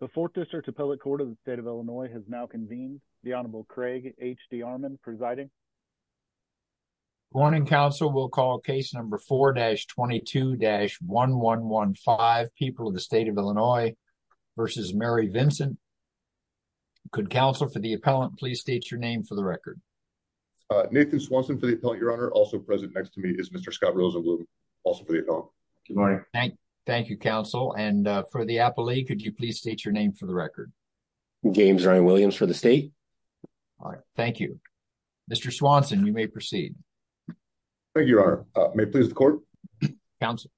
The Fourth District Appellate Court of the State of Illinois has now convened. The Honorable Craig H.D. Armon presiding. Good morning, counsel. We'll call case number 4-22-1115, People of the State of Illinois v. Mary Vincent. Could counsel for the appellant please state your name for the record? Nathan Swanson for the appellant, Your Honor. Also present next to me is Mr. Scott Rosewood, also for the appellant. Good morning. Thank you, counsel. And for the appellate, could you please state your name for the record? James Ryan Williams for the state. All right. Thank you. Mr. Swanson, you may proceed. Thank you, Your Honor. May it please the court? Counsel.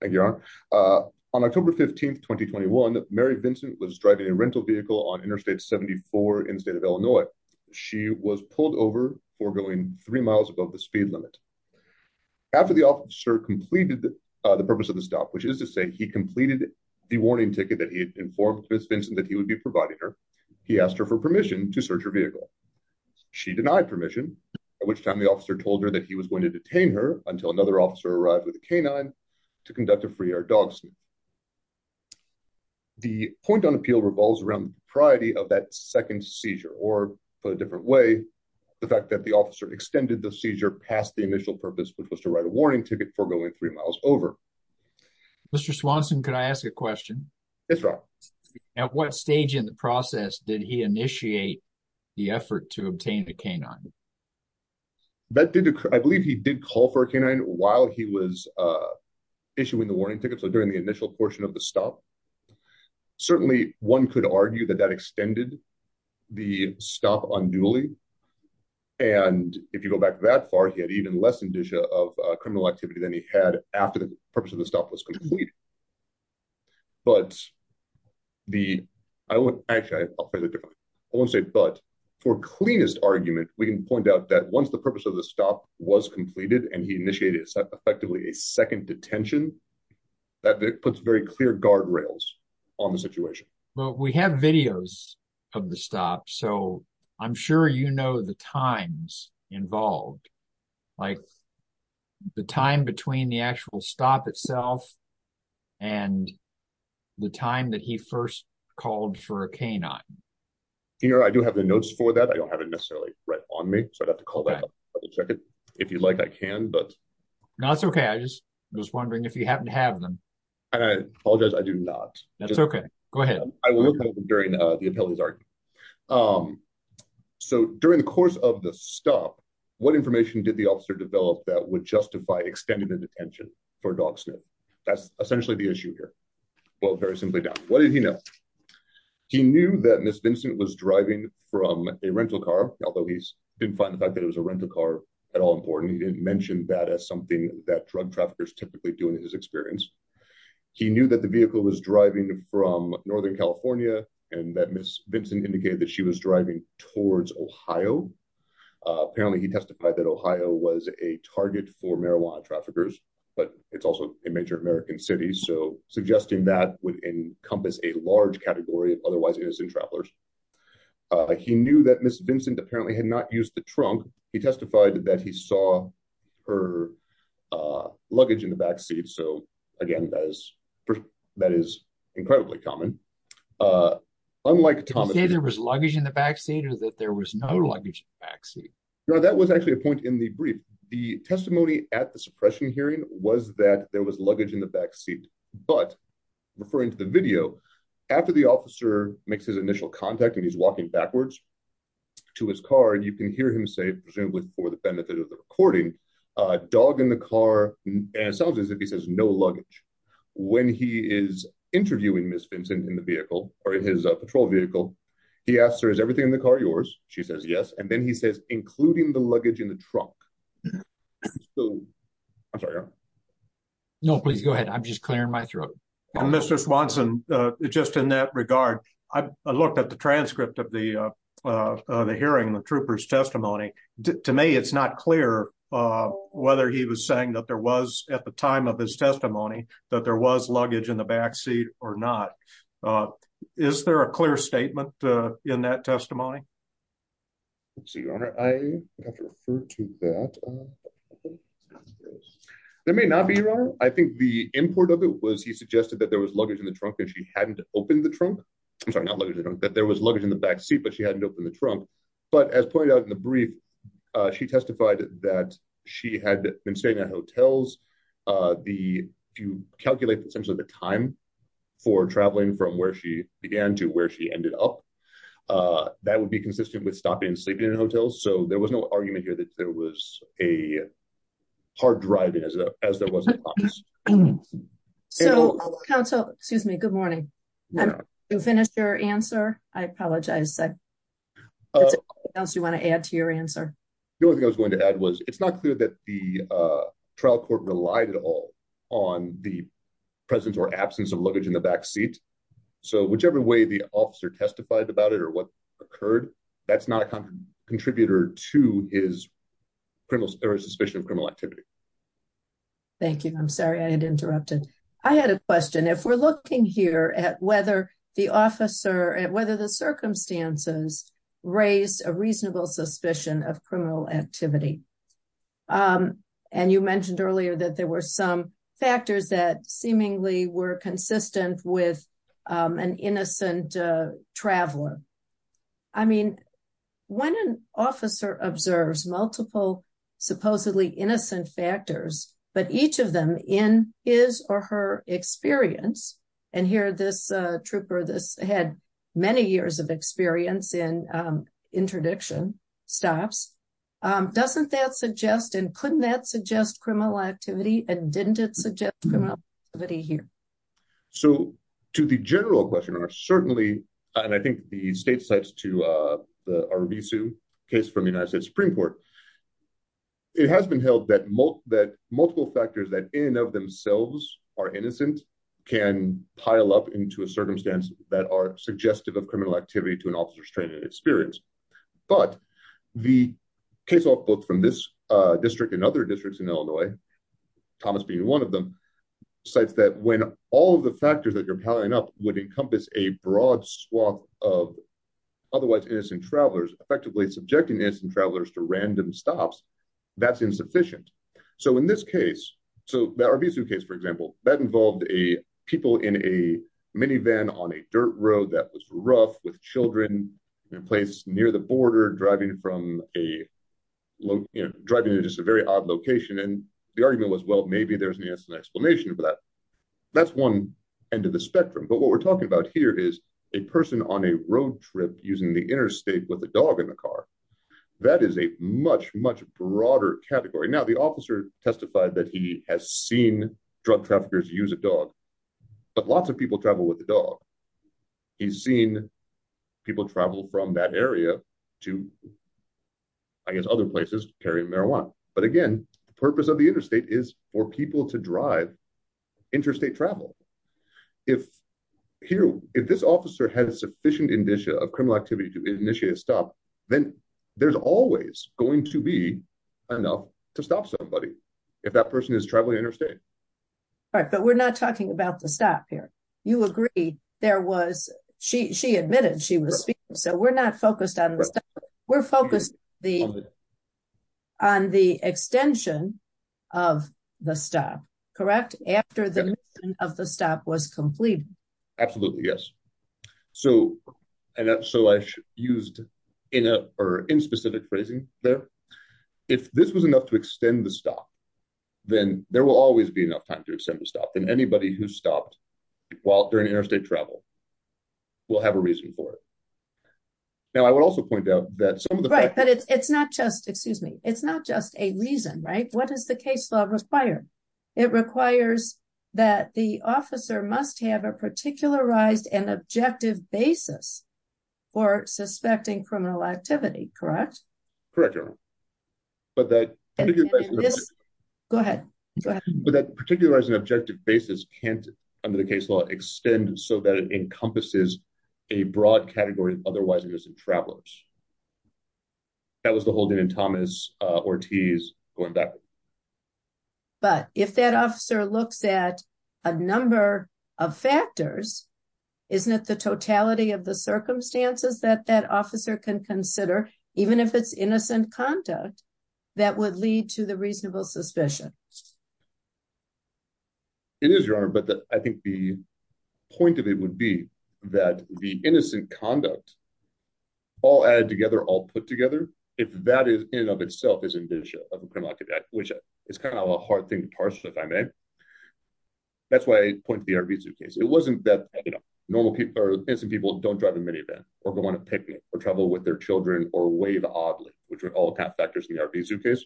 Thank you, Your Honor. On October 15, 2021, Mary Vincent was driving a rental vehicle on Interstate 74 in the state of Illinois. She was pulled over for going three miles above the speed limit. After the officer completed the purpose of the stop, which is to say he completed the warning ticket that he had informed Ms. Vincent that he would be providing her, he asked her for permission to search her vehicle. She denied permission, at which time the officer told her that he was going to detain her until another officer arrived with a canine to conduct a free-air dog sniff. The point on appeal revolves around the propriety of that second seizure, or for a different way, the fact that the officer extended the seizure past the initial purpose, which was to write a warning ticket for going three miles over. Mr. Swanson, could I ask a question? Yes, Your Honor. At what stage in the process did he initiate the effort to obtain a canine? I believe he did call for a canine while he was issuing the warning ticket, so during the stop unduly, and if you go back that far, he had even less indicia of criminal activity than he had after the purpose of the stop was completed. But for cleanest argument, we can point out that once the purpose of the stop was completed and he initiated effectively a second detention, that puts very clear guardrails on the situation. But we have videos of the stop, so I'm sure you know the times involved. Like, the time between the actual stop itself and the time that he first called for a canine. Your Honor, I do have the notes for that. I don't have it necessarily right on me, so I'd have to call back and double-check it. If you'd like, I can, but... No, it's okay. I was just wondering if you happen to have them. And I apologize, I do not. That's okay. Go ahead. I will have them during the appellee's argument. So, during the course of the stop, what information did the officer develop that would justify extending the detention for a dog sniff? That's essentially the issue here. Well, very simply, what did he know? He knew that Ms. Vincent was driving from a rental car, although he didn't find the fact that it was a rental car at all important. He didn't mention that as something that drug was driving from Northern California, and that Ms. Vincent indicated that she was driving towards Ohio. Apparently, he testified that Ohio was a target for marijuana traffickers, but it's also a major American city, so suggesting that would encompass a large category of otherwise innocent travelers. He knew that Ms. Vincent apparently had not used the trunk. He testified that he saw her luggage in the backseat. So, again, that is incredibly common. Unlike... Did he say there was luggage in the backseat or that there was no luggage in the backseat? No, that was actually a point in the brief. The testimony at the suppression hearing was that there was luggage in the backseat, but referring to the video, after the officer makes his initial contact and he's walking backwards to his car, and you can hear him say, presumably for the benefit of the recording, a dog in the car, and it sounds as if he says no luggage. When he is interviewing Ms. Vincent in the vehicle or in his patrol vehicle, he asks her, is everything in the car yours? She says yes, and then he says, including the luggage in the trunk. So, I'm sorry, Aaron. No, please go ahead. I'm just clearing my throat. Mr. Swanson, just in that regard, I looked at the transcript of the hearing, the trooper's testimony. To me, it's not clear whether he was saying that there was, at the time of his testimony, that there was luggage in the backseat or not. Is there a clear statement in that testimony? Your Honor, I have to refer to that. There may not be, Your Honor. I think the import of it was he suggested that there was luggage in the trunk and she hadn't opened the trunk. I'm sorry, not luggage in the trunk, but there was luggage in the backseat, but she hadn't opened the trunk. But as pointed out in the brief, she testified that she had been staying at hotels. If you calculate, essentially, the time for traveling from where she began to where she ended up, that would be consistent with a hard drive as there was in the office. So, counsel, excuse me, good morning. To finish your answer, I apologize. Is there anything else you want to add to your answer? The only thing I was going to add was it's not clear that the trial court relied at all on the presence or absence of luggage in the backseat. So, whichever way the officer testified about it or what occurred, that's not a contributor to his suspicion of criminal activity. Thank you. I'm sorry I had interrupted. I had a question. If we're looking here at whether the circumstances raised a reasonable suspicion of criminal activity, and you mentioned earlier that there were some factors that seemingly were consistent with an officer, I mean, when an officer observes multiple supposedly innocent factors, but each of them in his or her experience, and here this trooper had many years of experience in interdiction stops, doesn't that suggest and couldn't that suggest criminal activity and didn't it suggest criminal activity here? So, to the general questioner, certainly, and I think the state cites to the Arvizu case from the United States Supreme Court, it has been held that multiple factors that in and of themselves are innocent can pile up into a circumstance that are suggestive of criminal activity to an officer's training and experience, but the casebook from this district and other districts in Illinois, Thomas being one of them, cites that when all of the factors that you're piling up would encompass a broad swath of otherwise innocent travelers, effectively subjecting innocent travelers to random stops, that's insufficient. So, in this case, so the Arvizu case, for example, that involved people in a minivan on a dirt road that was rough with children in a place near the border driving from a low, you know, driving into just a very odd location and the argument was, well, maybe there's an explanation for that. That's one end of the spectrum, but what we're talking about here is a person on a road trip using the interstate with a dog in the car. That is a much, much broader category. Now, the officer testified that he has seen drug traffickers use a dog, but lots of people travel with the dog. He's seen people travel from that area to other places carrying marijuana, but again, the purpose of the interstate is for people to drive interstate travel. If this officer has sufficient indicia of criminal activity to initiate a stop, then there's always going to be enough to stop somebody if that person is traveling interstate. Right, but we're not talking about the stop here. You agree there was, she admitted she was speaking, so we're not focused on this. We're focused on the extension of the stop, correct? After the of the stop was completed. Absolutely, yes. So, and so I used in a or in specific phrasing there, if this was enough to extend the stop, then there will always be enough time to extend the stop, then anybody who stopped while during interstate travel will have a reason for it. Now, I would also point out that some of the... Right, but it's not just, excuse me, it's not just a reason, right? What does the case law require? It requires that the officer must have a particularized and objective basis for suspecting criminal activity, correct? Correct, but that... Go ahead, go ahead. But that particularized and objective basis can't, the case law, extend so that it encompasses a broad category of otherwise innocent travelers. That was the whole thing in Thomas Ortiz going back. But if that officer looks at a number of factors, isn't it the totality of the circumstances that that officer can consider, even if it's innocent conduct, that would lead to the reasonable suspicion? It is, Your Honor, but I think the point of it would be that the innocent conduct, all added together, all put together, if that in and of itself is indenture of a criminal act, which is kind of a hard thing to parse, if I may. That's why I point to the RV suitcase. It wasn't that, you know, normal people or innocent people don't drive a minivan or go on a picnic or travel with their children or wave oddly, which are all factors in the RV suitcase.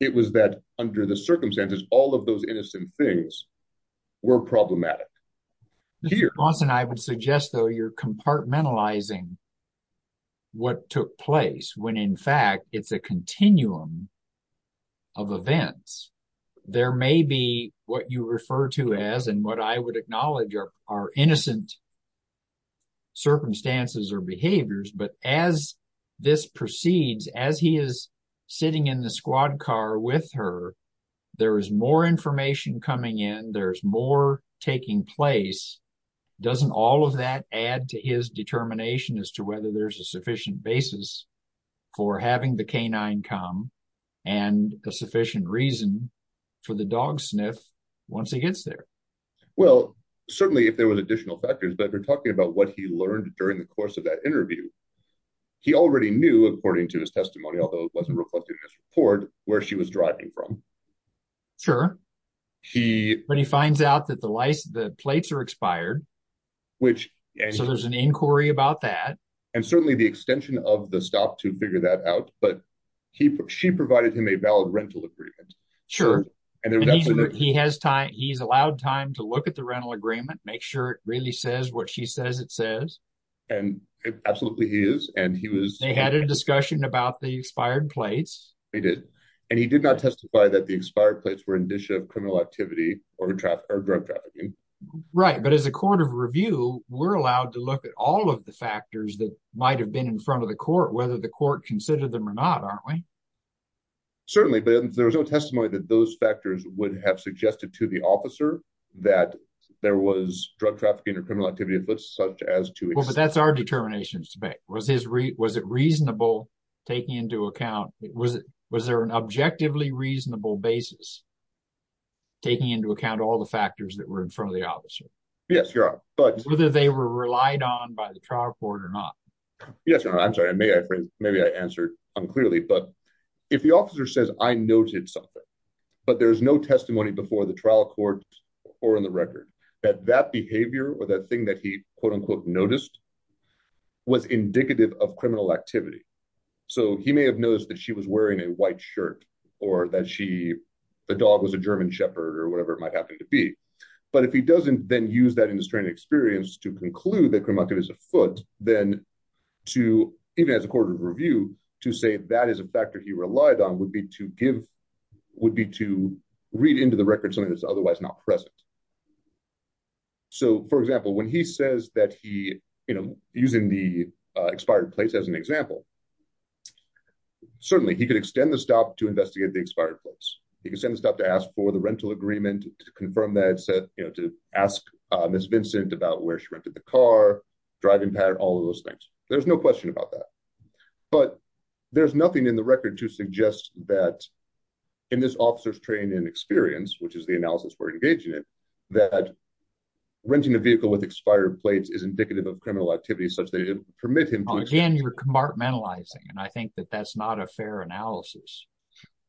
It was that under the circumstances, all of those innocent things were problematic. Mr. Johnson, I would suggest, though, you're compartmentalizing what took place when, in fact, it's a continuum of events. There may be what you refer to as, and what I would acknowledge, are innocent circumstances or behaviors. But as this squad car with her, there is more information coming in. There's more taking place. Doesn't all of that add to his determination as to whether there's a sufficient basis for having the canine come and a sufficient reason for the dog sniff once he gets there? Well, certainly if there were additional factors, but you're talking about what he learned during the course of that interview. He already knew, according to his testimony, although it wasn't reflected in his report, where she was driving from. Sure. But he finds out that the plates are expired. So there's an inquiry about that. And certainly the extension of the stop to figure that out, but she provided him a valid rental agreement. Sure. He's allowed time to look at the rental and he had a discussion about the expired plates. He did. And he did not testify that the expired plates were indicia of criminal activity or drug trafficking. Right. But as a court of review, we're allowed to look at all of the factors that might have been in front of the court, whether the court considered them or not, aren't we? Certainly. But there was no testimony that those factors would have suggested to the officer that there was drug trafficking or was his. Was it reasonable taking into account? Was it was there an objectively reasonable basis taking into account all the factors that were in front of the officer? Yes, you're right. But whether they were relied on by the trial court or not. Yes. I'm sorry. I may have maybe I answered unclearly. But if the officer says I noted something, but there is no testimony before the trial court or on the record that that behavior or that thing that he, quote, unquote, noticed was indicative of criminal activity. So he may have noticed that she was wearing a white shirt or that she the dog was a German shepherd or whatever it might happen to be. But if he doesn't then use that in this training experience to conclude that criminal activity is afoot, then to even as a court of review to say that is a factor he relied on would be to give would be to read into the record something that's otherwise not present. So, for example, when he says that he, you know, using the expired place as an example, certainly he could extend the stop to investigate the expired place. He can send stuff to ask for the rental agreement to confirm that said, you know, to ask Miss Vincent about where she rented the car, driving pattern, all of those things. There's no question about that. But there's nothing in the record to suggest that in this officer's training experience, which is the that renting a vehicle with expired plates is indicative of criminal activity such that it permit him to again, you're compartmentalizing. And I think that that's not a fair analysis.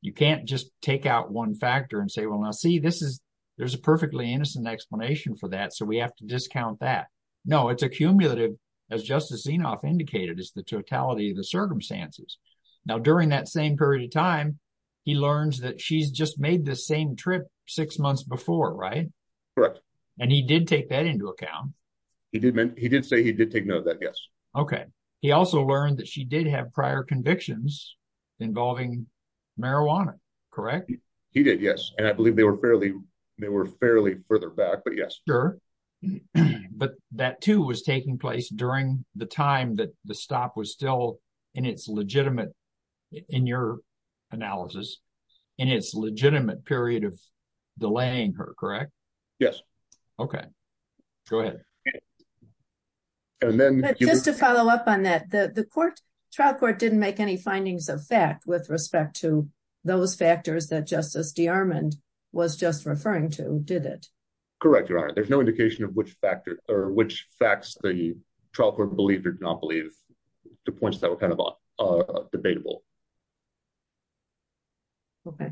You can't just take out one factor and say, well, now, see, this is there's a perfectly innocent explanation for that. So we have to discount that. No, it's a cumulative, as Justice Zinoff indicated, is the totality of the circumstances. Now, during that same period time, he learns that she's just made the same trip six months before. Right. Correct. And he did take that into account. He did. He did say he did take note of that. Yes. OK. He also learned that she did have prior convictions involving marijuana. Correct. He did. Yes. And I believe they were fairly they were fairly further back. But yes. Sure. But that, too, was taking place during the time that the stop was still in its legitimate, in your analysis, in its legitimate period of delaying her, correct? Yes. OK, go ahead. And then just to follow up on that, the court trial court didn't make any findings of fact with respect to those factors that Justice DeArmond was just referring to, did it? Correct, Your Honor. There's no indication of which factor or which facts the trial court believed or did not believe, the points that were kind of debatable. OK.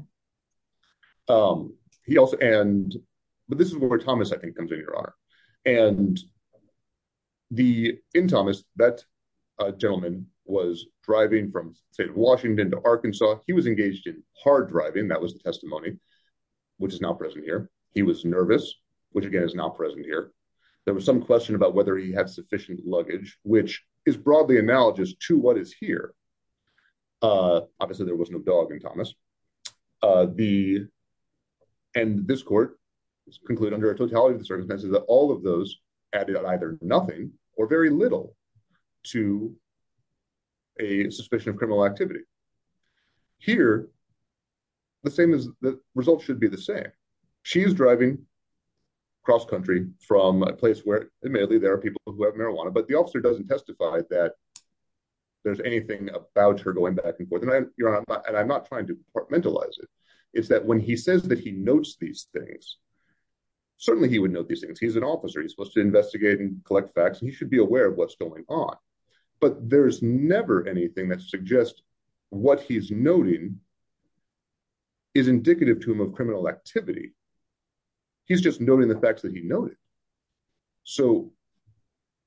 He also and but this is where Thomas, I think, comes in, Your Honor. And the in Thomas, that gentleman was driving from, say, Washington to Arkansas. He was engaged in hard driving. That was the testimony, which is not present here. He was nervous, which, again, is not present here. There was some question about whether he had sufficient luggage, which is broadly analogous to what is here. Obviously, there was no dog in Thomas. The and this court conclude under a totality of the circumstances that all of those added up either nothing or very little to a suspicion of results should be the same. She's driving cross-country from a place where there are people who have marijuana, but the officer doesn't testify that there's anything about her going back and forth. And I'm not trying to mentalize it. It's that when he says that he notes these things, certainly he would know these things. He's an officer. He's supposed to investigate and collect facts. And he should be aware of what's going on. But there's never anything that suggests what he's noting is indicative to him of criminal activity. He's just noting the facts that he noted. So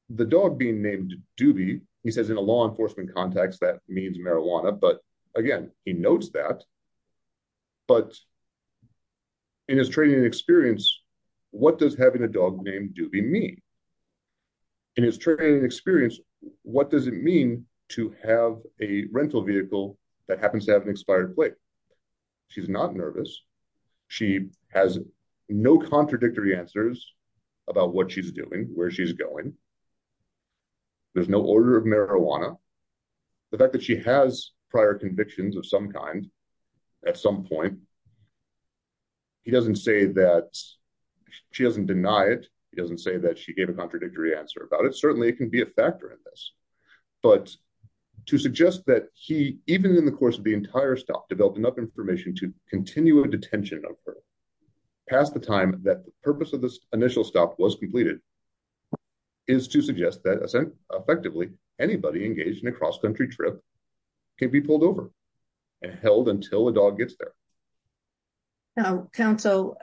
the dog being named Doobie, he says, in a law enforcement context, that means marijuana. But again, he notes that. But in his training experience, what does having a dog named Doobie mean? In his training experience, what does it mean to have a rental vehicle that happens to have an expired plate? She's not nervous. She has no contradictory answers about what she's doing, where she's going. There's no order of marijuana. The fact that she has prior convictions of some at some point, he doesn't say that she doesn't deny it. He doesn't say that she gave a contradictory answer about it. Certainly it can be a factor in this. But to suggest that he, even in the course of the entire stop, developed enough information to continue a detention of her past the time that the purpose of this initial stop was completed, is to suggest that effectively, anybody engaged in a cross country trip can be pulled over and held until a dog gets there. Now, counsel,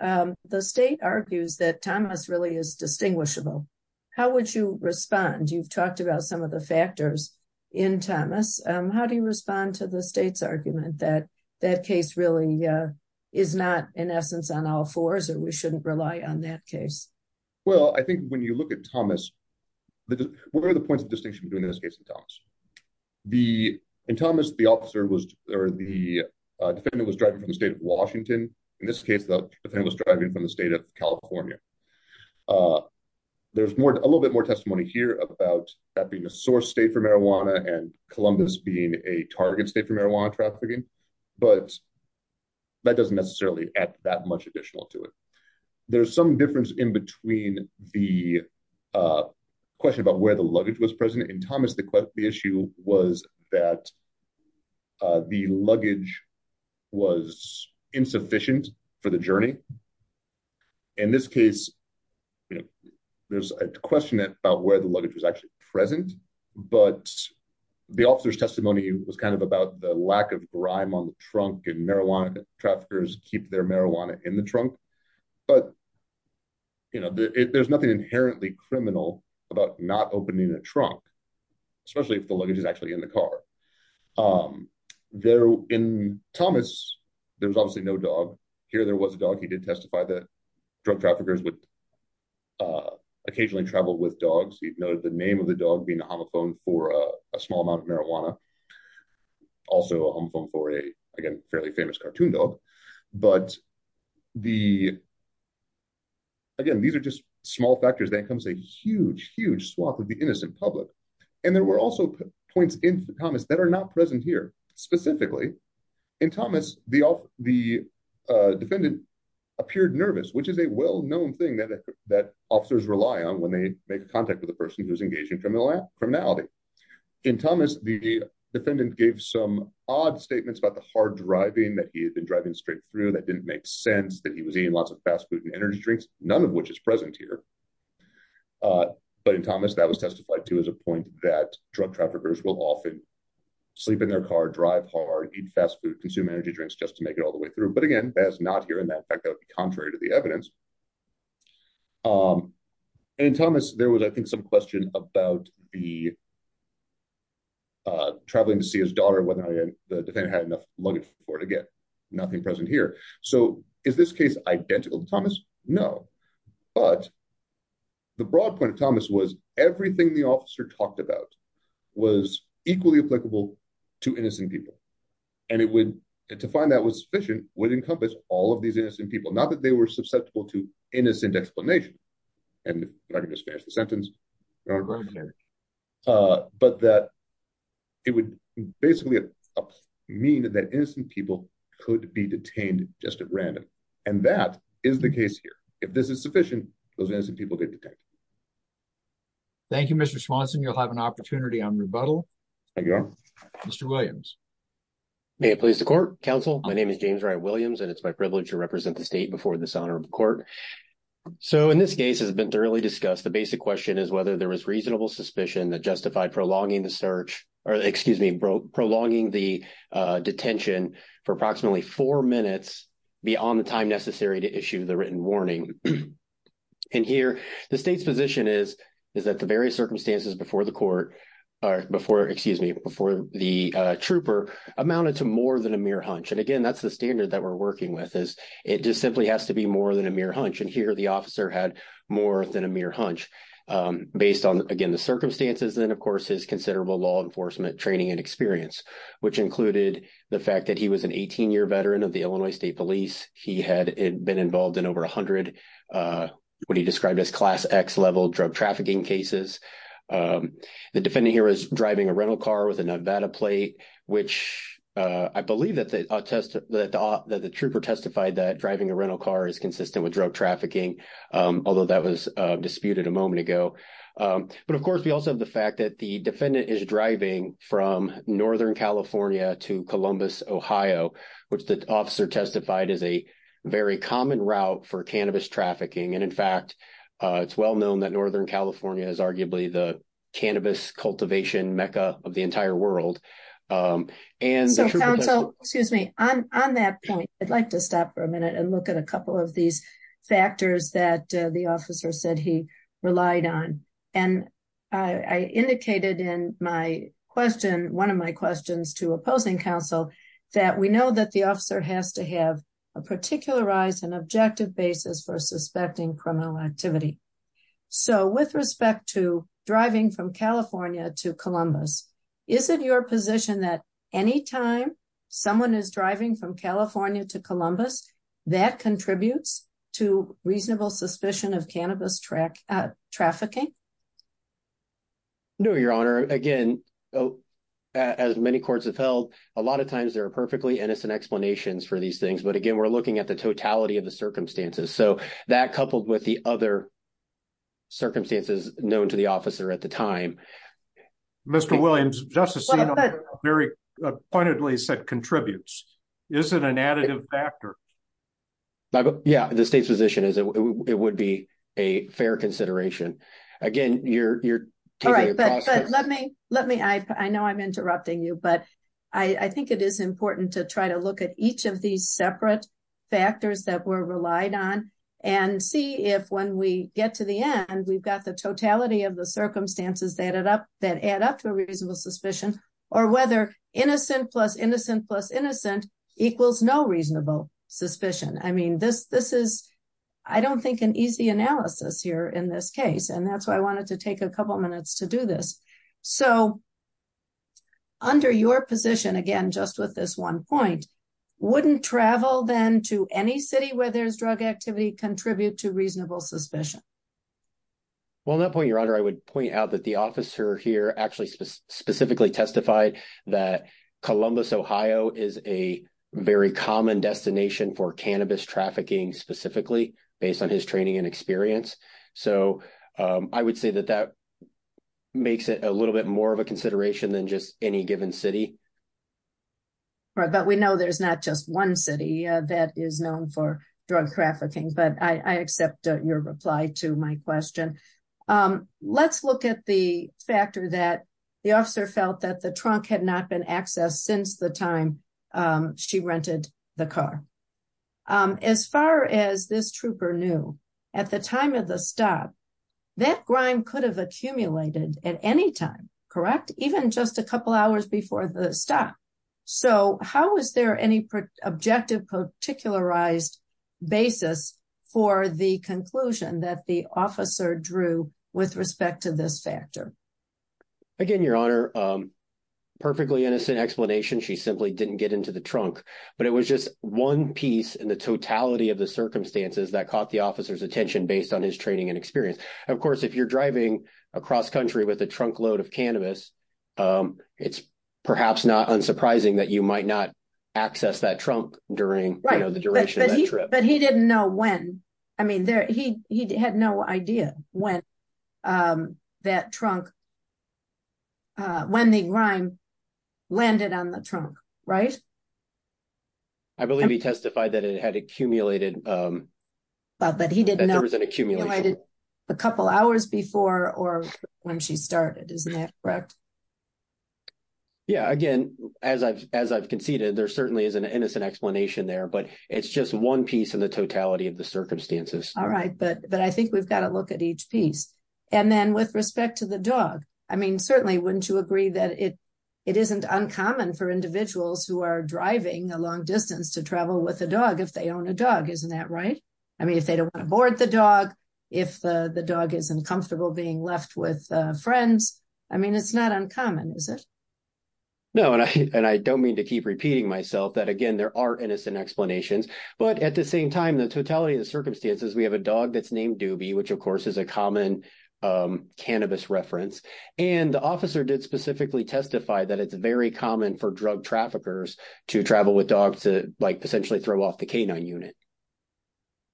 the state argues that Thomas really is distinguishable. How would you respond? You've talked about some of the factors in Thomas, how do you respond to the state's argument that that case really is not in essence on all fours, or we shouldn't rely on that case? Well, I think when you look at Thomas, what are the points of distinction between this case and Thomas? In Thomas, the officer or the defendant was driving from the state of Washington. In this case, the defendant was driving from the state of California. There's a little bit more testimony here about that being a source state for marijuana and Columbus being a target state for marijuana trafficking. But that doesn't necessarily add that much additional to it. There's some difference in the question about where the luggage was present. In Thomas, the issue was that the luggage was insufficient for the journey. In this case, there's a question about where the luggage was actually present. But the officer's testimony was about the lack of grime on the trunk and marijuana traffickers keep their marijuana in the trunk. But there's nothing inherently criminal about not opening a trunk, especially if the luggage is actually in the car. In Thomas, there was obviously no dog. Here, there was a dog. He did testify that drug traffickers occasionally traveled with dogs. He noted the name of the dog being a homophone for a small amount of marijuana, also a homophone for a, again, fairly famous cartoon dog. But again, these are just small factors. Then comes a huge, huge swath of the innocent public. And there were also points in Thomas that are not present here. Specifically, in Thomas, the defendant appeared nervous, which is a well-known thing that officers rely on when they make contact with a person who's engaged in criminality. In Thomas, the defendant gave some odd statements about the hard driving that he had been driving straight through that didn't make sense, that he was eating lots of fast food and energy drinks, none of which is present here. But in Thomas, that was testified to as a point that drug traffickers will often sleep in their car, drive hard, eat fast food, consume energy drinks just to make it all the way through. But there was, I think, some question about the traveling to see his daughter, whether the defendant had enough luggage for it again. Nothing present here. So is this case identical to Thomas? No. But the broad point of Thomas was everything the officer talked about was equally applicable to innocent people. And to find that was sufficient would encompass all of these people. Not that they were susceptible to innocent explanation. And I'm not going to smash the sentence. But that it would basically mean that innocent people could be detained just at random. And that is the case here. If this is sufficient, those innocent people get detained. Thank you, Mr. Swanson. You'll have an opportunity on rebuttal. Counsel, my name is James Wright Williams, and it's my privilege to represent the state before this honorable court. So in this case has been thoroughly discussed, the basic question is whether there was reasonable suspicion that justified prolonging the search, or excuse me, prolonging the detention for approximately four minutes beyond the time necessary to issue the written warning. And here, the state's position is, is that the various circumstances before the trooper amounted to more than a mere hunch. And again, that's the standard that we're working with is it just simply has to be more than a mere hunch. And here, the officer had more than a mere hunch based on, again, the circumstances, and then, of course, his considerable law enforcement training and experience, which included the fact that he was an 18-year veteran of the Illinois State Police. He had been involved in over 100 what he described as class X level drug trafficking cases. The defendant here is driving a rental car with a Nevada plate, which I believe that the test that the trooper testified that driving a rental car is consistent with drug trafficking, although that was disputed a moment ago. But of course, we also have the fact that the defendant is driving from Northern California to Columbus, Ohio, which the officer testified is a very common route for cannabis trafficking. And in fact, it's well known that Northern California is arguably the cannabis cultivation mecca of the entire world. And the trooper testified- So, counsel, excuse me. On that point, I'd like to stop for a minute and look at a couple of these factors that the officer said he relied on. And I indicated in my question, one of my questions to opposing counsel, that we know that the officer has to have a particularized and objective basis for suspecting criminal activity. So, with respect to driving from California to Columbus, is it your position that anytime someone is driving from California to Columbus, that contributes to reasonable suspicion of cannabis trafficking? No, Your Honor. Again, as many courts have held, a lot of times there are perfectly innocent explanations for these things. But again, we're looking at the totality of the circumstances. So, that coupled with the other circumstances known to the officer at the time- Mr. Williams, Justice Enum, very pointedly said contributes. Is it an additive factor? Yeah, the state's position is it would be a fair consideration. Again, you're- All right, but let me- I know I'm interrupting you, but I think it is important to try to look at each of these separate factors that were relied on and see if when we get to the end, we've got the totality of the circumstances that add up to a reasonable suspicion, or whether innocent plus innocent plus innocent equals no reasonable suspicion. I mean, this is, I don't think, an easy analysis here in this case. And that's why I wanted to take a couple minutes to do this. So, under your position, again, just with this one point, wouldn't travel then to any city where there's drug activity contribute to reasonable suspicion? Well, on that point, Your Honor, I would point out that the officer here actually specifically testified that Columbus, Ohio is a very common destination for cannabis trafficking specifically based on his training and experience. So, I would say that that makes it a little bit more of a consideration than just any given city. But we know there's not just one city that is known for drug trafficking, but I accept your reply to my question. Let's look at the factor that the officer felt that the trunk had not been accessed since the time she rented the car. As far as this trooper knew, at the time of the stop, that grime could have accumulated at any time, correct? Even just a couple hours before the stop. So, how is there any objective particularized basis for the conclusion that the officer drew with respect to this factor? Again, Your Honor, perfectly innocent explanation. She simply didn't get into the trunk, but it was just one piece in the totality of the circumstances that caught the officer's attention based on his training and experience. Of course, if you're driving across country with a trunk load of cannabis, it's perhaps not unsurprising that you might not access that trunk during the duration of that trip. Right, but he didn't know when. I mean, he had no idea when that trunk, when the grime landed on the trunk, right? I believe he testified that it had accumulated. But he didn't know if it accumulated a couple hours before or when she started, isn't that correct? Yeah, again, as I've conceded, there certainly is an innocent explanation there, it's just one piece in the totality of the circumstances. All right, but I think we've got to look at each piece. And then with respect to the dog, I mean, certainly, wouldn't you agree that it isn't uncommon for individuals who are driving a long distance to travel with a dog if they own a dog, isn't that right? I mean, if they don't want to board the dog, if the dog isn't comfortable being left with friends, I mean, it's not uncommon, is it? No, and I don't mean to keep repeating myself that, again, there are innocent explanations, but at the same time, the totality of the circumstances, we have a dog that's named Doobie, which of course is a common cannabis reference. And the officer did specifically testify that it's very common for drug traffickers to travel with dogs to like essentially throw off the canine unit.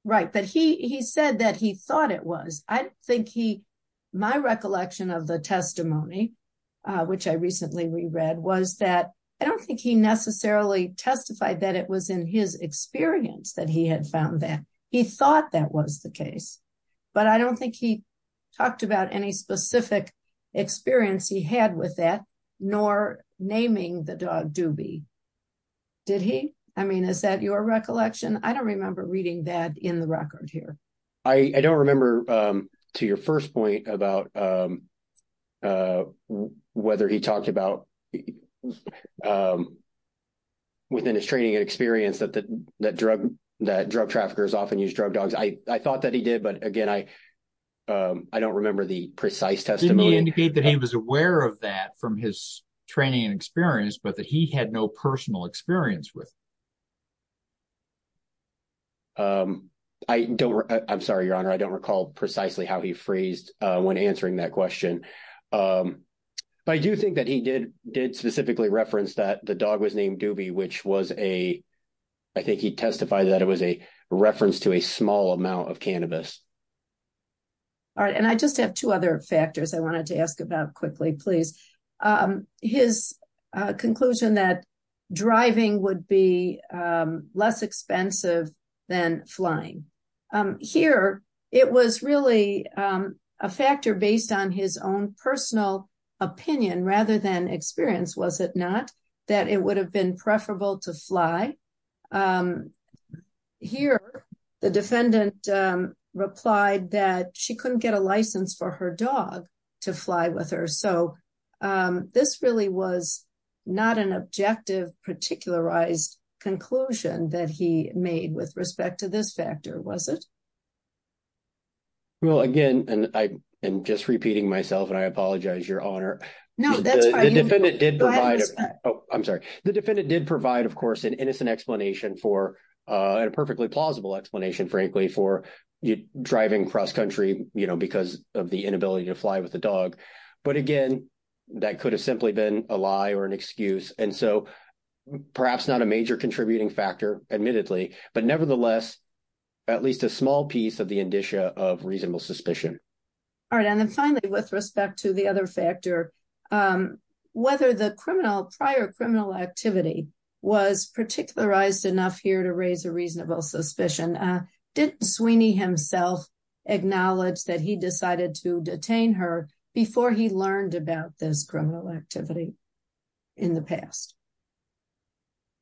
Right, but he said that he thought it was. I think he, my recollection of the testimony, which I recently reread, was that I don't think he necessarily testified that it was in his experience that he had found that. He thought that was the case, but I don't think he talked about any specific experience he had with that, nor naming the dog Doobie. Did he? I mean, is that your recollection? I don't remember reading that in the record here. I don't remember to your first point about whether he talked about within his training and experience that drug traffickers often use drug dogs. I thought that he did, but again, I don't remember the precise testimony. Didn't he indicate that he was aware of that from his training and experience, but that he had no personal experience with? I don't, I'm sorry, your honor. I don't recall precisely how he phrased when answering that question. But I do think that he did specifically reference that the dog was named Doobie, which was a, I think he testified that it was a reference to a small amount of cannabis. All right, and I just have two other factors I wanted to ask about quickly, please. His conclusion that driving would be less expensive than flying. Here, it was really a factor based on his own personal opinion, rather than experience, was it not? That it would have been preferable to fly. Here, the defendant replied that she couldn't get a this really was not an objective particularized conclusion that he made with respect to this factor, was it? Well, again, and I am just repeating myself and I apologize, your honor. No, that's fine. The defendant did provide, oh, I'm sorry. The defendant did provide, of course, an innocent explanation for, a perfectly plausible explanation, frankly, for driving cross country because of the inability to fly with the dog. But again, that could have simply been a lie or an excuse. And so perhaps not a major contributing factor, admittedly, but nevertheless, at least a small piece of the indicia of reasonable suspicion. All right. And then finally, with respect to the other factor, whether the criminal, prior criminal activity was particularized enough here to raise a reasonable suspicion, did Sweeney himself acknowledge that he decided to detain her before he learned about this criminal activity in the past?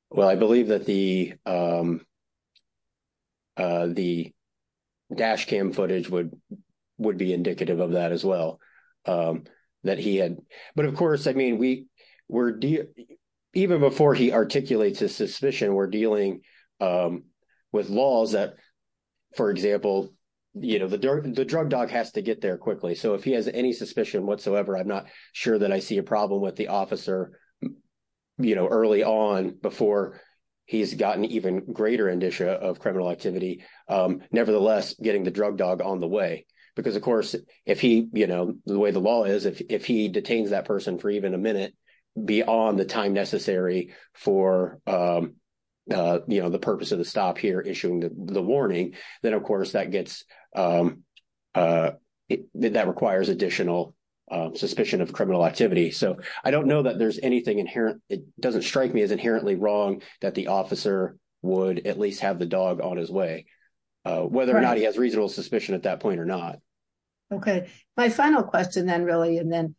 Well, I believe that the dash cam footage would be indicative of that as well, that he had. But of course, I mean, we're, even before he articulates his suspicion, we're dealing with laws that, for example, you know, the drug dog has to get there quickly. So if he has any suspicion whatsoever, I'm not sure that I see a problem with the officer, you know, early on before he's gotten even greater indicia of criminal activity. Nevertheless, getting the drug dog on the way, because, of course, if he, you know, the way the law is, if he detains that person for even a minute beyond the time necessary for, you know, the purpose of the stop here issuing the warning, then, of course, that gets, that requires additional suspicion of criminal activity. So I don't know that there's anything inherent, it doesn't strike me as inherently wrong that the officer would at least have the dog on his way, whether or not he has reasonable suspicion at that point or not. Okay, my final question then, really, and then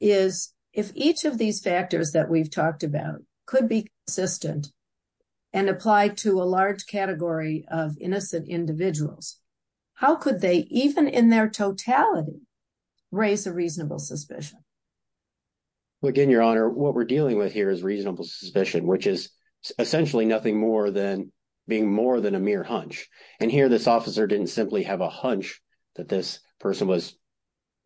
is, if each of these factors that we've talked about could be consistent and apply to a large category of innocent individuals, how could they, even in their totality, raise a reasonable suspicion? Well, again, Your Honor, what we're dealing with here is reasonable suspicion, which is essentially nothing more than a mere hunch. And here this officer didn't simply have a hunch that this person was,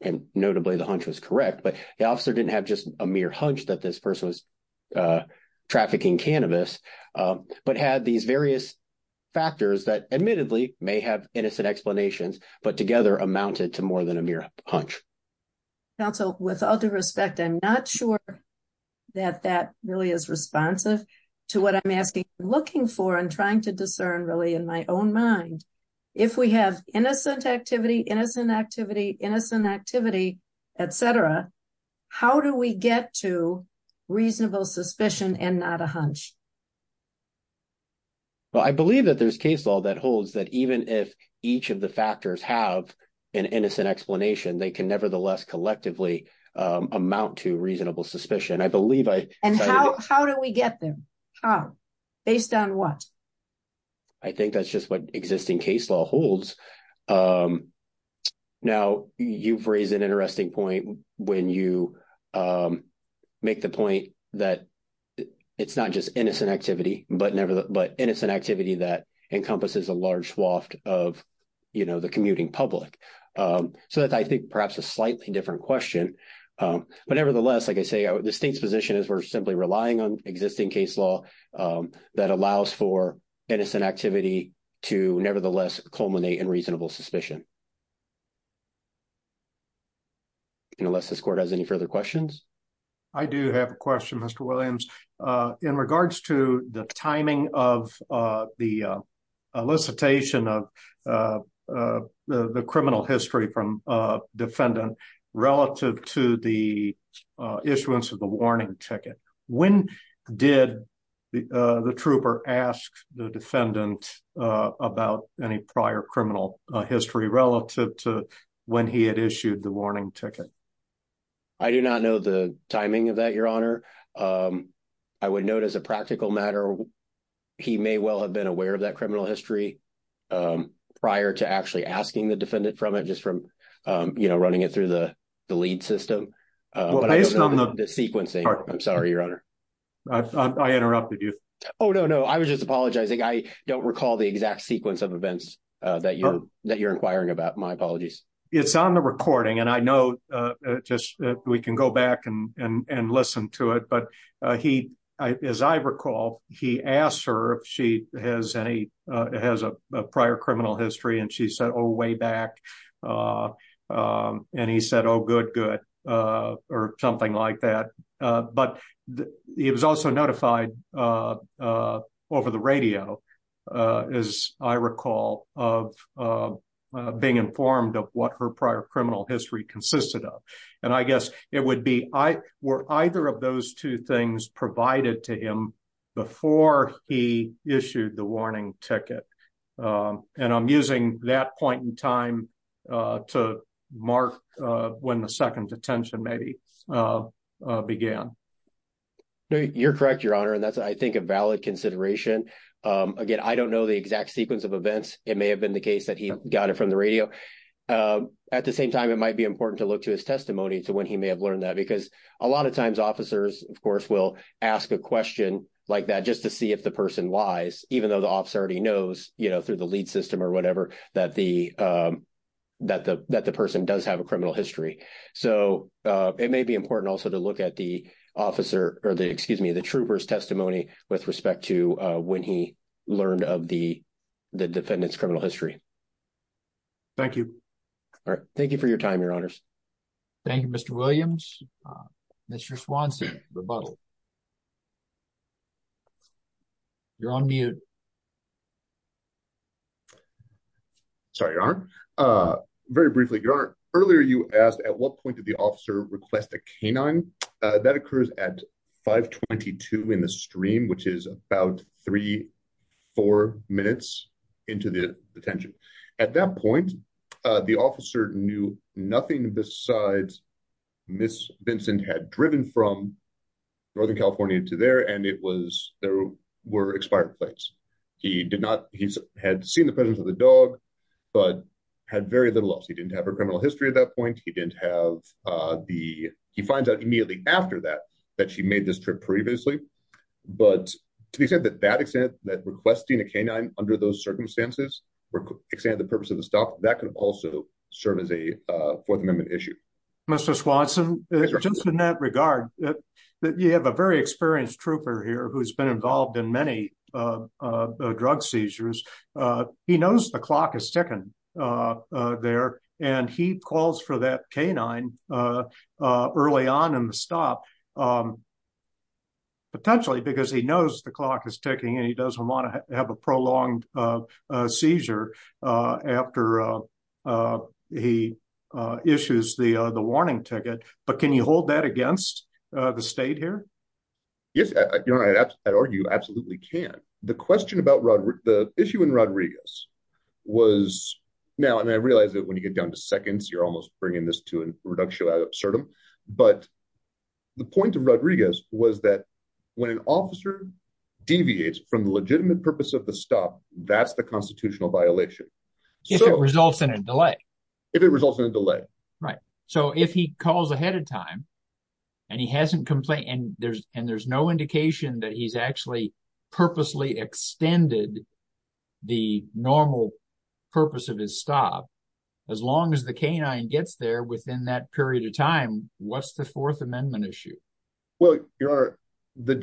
and notably, the hunch was correct, but the officer didn't have just a mere hunch that this person was trafficking cannabis, but had these various factors that admittedly may have innocent explanations, but together amounted to more than a mere hunch. Counsel, with all due respect, I'm not sure that that really is responsive to what I'm asking, looking for, and trying to discern, really, in my own mind. If we have innocent activity, innocent activity, innocent activity, etc., how do we get to reasonable suspicion and not a hunch? Well, I believe that there's case law that holds that even if each of the factors have an innocent explanation, they can nevertheless collectively amount to reasonable suspicion. And how do we get there? Based on what? I think that's just what existing case law holds. Now, you've raised an interesting point when you make the point that it's not just innocent activity, but innocent activity that encompasses a large swath of the commuting public. So that's, I think, perhaps a slightly different question. But nevertheless, like I say, the state's position is we're simply relying on existing case law that allows for innocent activity to nevertheless culminate in reasonable suspicion. Unless this court has any further questions. I do have a question, Mr. Williams. In regards to the timing of the elicitation of the criminal history from defendant relative to the issuance of the warning ticket, when did the trooper ask the defendant about any prior criminal history relative to he had issued the warning ticket? I do not know the timing of that, Your Honor. I would note as a practical matter, he may well have been aware of that criminal history prior to actually asking the defendant from it, just from running it through the lead system. The sequencing. I'm sorry, Your Honor. I interrupted you. Oh, no, no. I was just apologizing. I don't recall the exact sequence of events that you're inquiring about. My apologies. It's on the recording, and I know we can go back and listen to it. But as I recall, he asked her if she has a prior criminal history, and she said, oh, way back. And he said, oh, good, good, or something like that. But he was also notified over the radio, as I recall, of being informed of what her prior criminal history consisted of. And I guess it would be, were either of those two things provided to him before he issued the warning ticket? And I'm using that point in time to mark when the second detention maybe began. You're correct, Your Honor. And that's, I think, a valid consideration. Again, I don't know the exact sequence of events. It may have been the case that he got it from the radio. At the same time, it might be important to look to his testimony to when he may have learned that, because a lot of times officers, of course, will ask a question like that just to see if the person lies, even though the officer already knows, you know, through the lead system or whatever, that the person does have a criminal history. So it may be important also to look at the officer, or the, excuse me, the trooper's testimony with respect to when he learned of the defendant's criminal history. Thank you. All right. Thank you for your time, Your Honors. Thank you, Mr. Williams. Mr. Swanson, rebuttal. You're on mute. Sorry, Your Honor. Very briefly, Your Honor, earlier you asked at what point did the officer request a canine? That occurs at 522 in the stream, which is about three, four minutes into the detention. At that point, the officer knew nothing besides Ms. Vincent had driven from Northern California to there, and it was, there were expired plates. He did not, he had seen the presence of the dog, but had very little else. He didn't have her criminal history at that point. He didn't have the, he finds out immediately after that, that she made this trip previously. But to the extent that that extent, that requesting a canine under those circumstances were, extended the purpose of the stop, that could also serve as a Fourth Amendment issue. Mr. Swanson, just in that regard, you have a very experienced trooper here who's been involved in many drug seizures. He knows the clock has tickened there, and he calls for that canine early on in the stop, potentially because he knows the clock is ticking and he doesn't want to have a prolonged seizure after he issues the warning ticket. But can you hold that against the state here? Yes, you know, I'd argue absolutely can. The question about the issue in Rodriguez was, now, and I realize that when you get down to seconds, you're almost bringing this to a reductio ad absurdum, but the point of Rodriguez was that when an officer deviates from the legitimate purpose of the stop, that's the constitutional violation. If it results in a delay. If it results in a delay. Right. So if he calls ahead of time, and he hasn't complained, and there's no indication that he's actually purposely extended the normal purpose of his stop, as long as the canine gets there within that period of time, what's the Fourth Amendment issue? Well, Your Honor,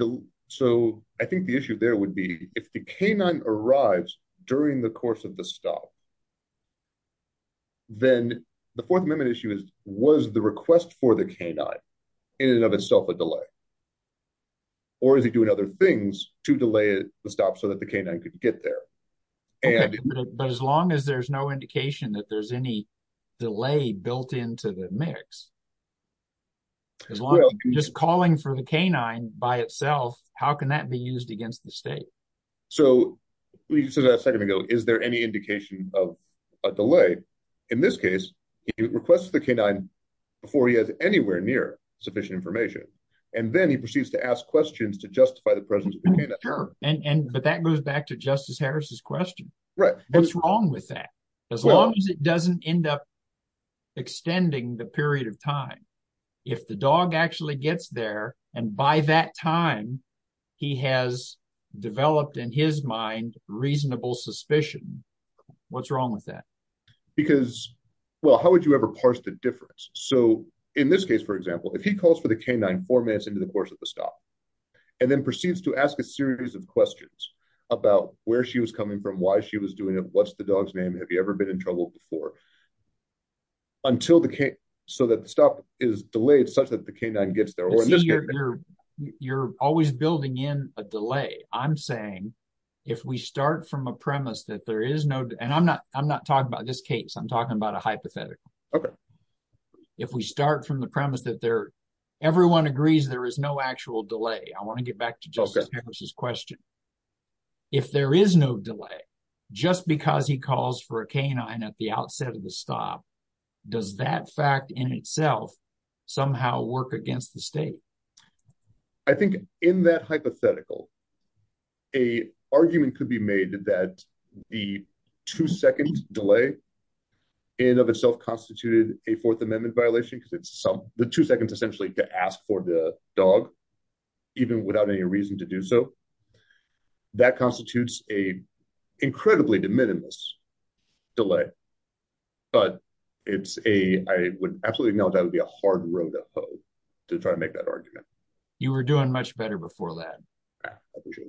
so I think the issue there would be if the canine arrives during the course of the stop, then the Fourth Amendment issue is, was the request for the canine in and of itself a delay? Or is he doing other things to delay the stop so that the canine could get there? But as long as there's no indication that there's any delay built into the mix, just calling for the canine by itself, how can that be used against the state? So we said a second ago, is there any indication of a delay? In this case, he requests the canine before he has anywhere near sufficient information. And then he proceeds to ask questions to justify the presence of the canine. But that goes back to Justice Harris's question. Right. What's wrong with that? As long as it doesn't end up extending the period of time, if the dog actually gets there, and by that time, he has developed in his mind, reasonable suspicion, what's wrong with that? Because, well, how would you ever parse the difference? So in this case, for example, if he calls for the canine four minutes into the course of the stop, and then proceeds to ask a series of questions about where she was coming from, why she was doing it, what's the dog's name? Have you ever been in trouble before? Until the case, so that the stop is delayed such that the canine gets there. Or in this case, you're, you're always building in a delay, I'm saying, if we start from a premise that there is no, and I'm not, I'm not talking about this case, I'm talking about a hypothetical. Okay. If we start from the premise that there, everyone agrees, there is no actual delay, I want to get back to Justice Harris's question. If there is no delay, just because he calls for canine at the outset of the stop, does that fact in itself somehow work against the state? I think in that hypothetical, a argument could be made that the two second delay in of itself constituted a Fourth Amendment violation, because it's some the two seconds, essentially to ask for the dog, even without any reason to do so. That constitutes a incredibly de minimis delay. But it's a, I would absolutely know that would be a hard road to hoe, to try and make that argument. You were doing much better before that.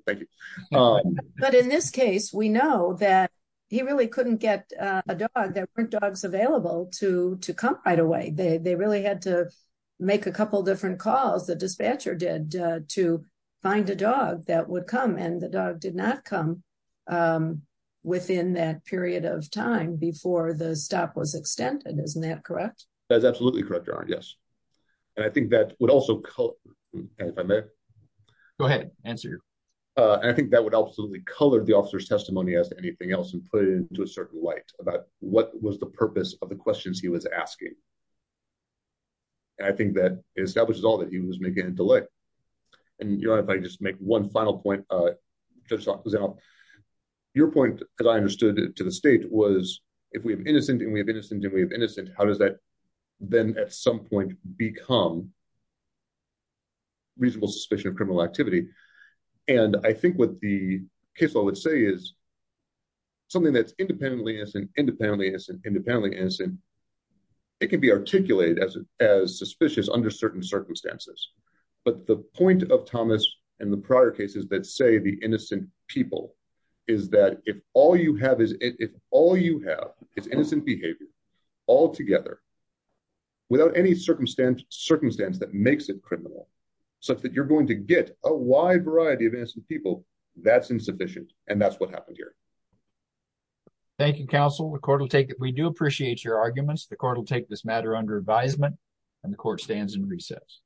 Thank you. But in this case, we know that he really couldn't get a dog that weren't dogs available to to come right away, they really had to make a couple different calls, the dispatcher to find a dog that would come and the dog did not come within that period of time before the stop was extended. Isn't that correct? That's absolutely correct. Yes. And I think that would also go ahead and answer. I think that would absolutely color the officer's testimony as anything else and put it into a certain light about what was the purpose of the questions he was asking. I think that establishes all that he was making a delay. And if I just make one final point, just your point, as I understood it to the state was, if we have innocent and we have innocent and we have innocent, how does that then at some point become reasonable suspicion of criminal activity. And I think what the case I would say is something that's independently as independently as independently as it can be articulated as as suspicious under certain circumstances. But the point of Thomas and the prior cases that say the innocent people is that if all you have is if all you have is innocent behavior altogether. Without any circumstance, circumstance that makes it criminal, such that you're going to get a wide variety of people, that's insufficient. And that's what happened here. Thank you, counsel. The court will take it. We do appreciate your arguments. The court will take this matter under advisement and the court stands in recess.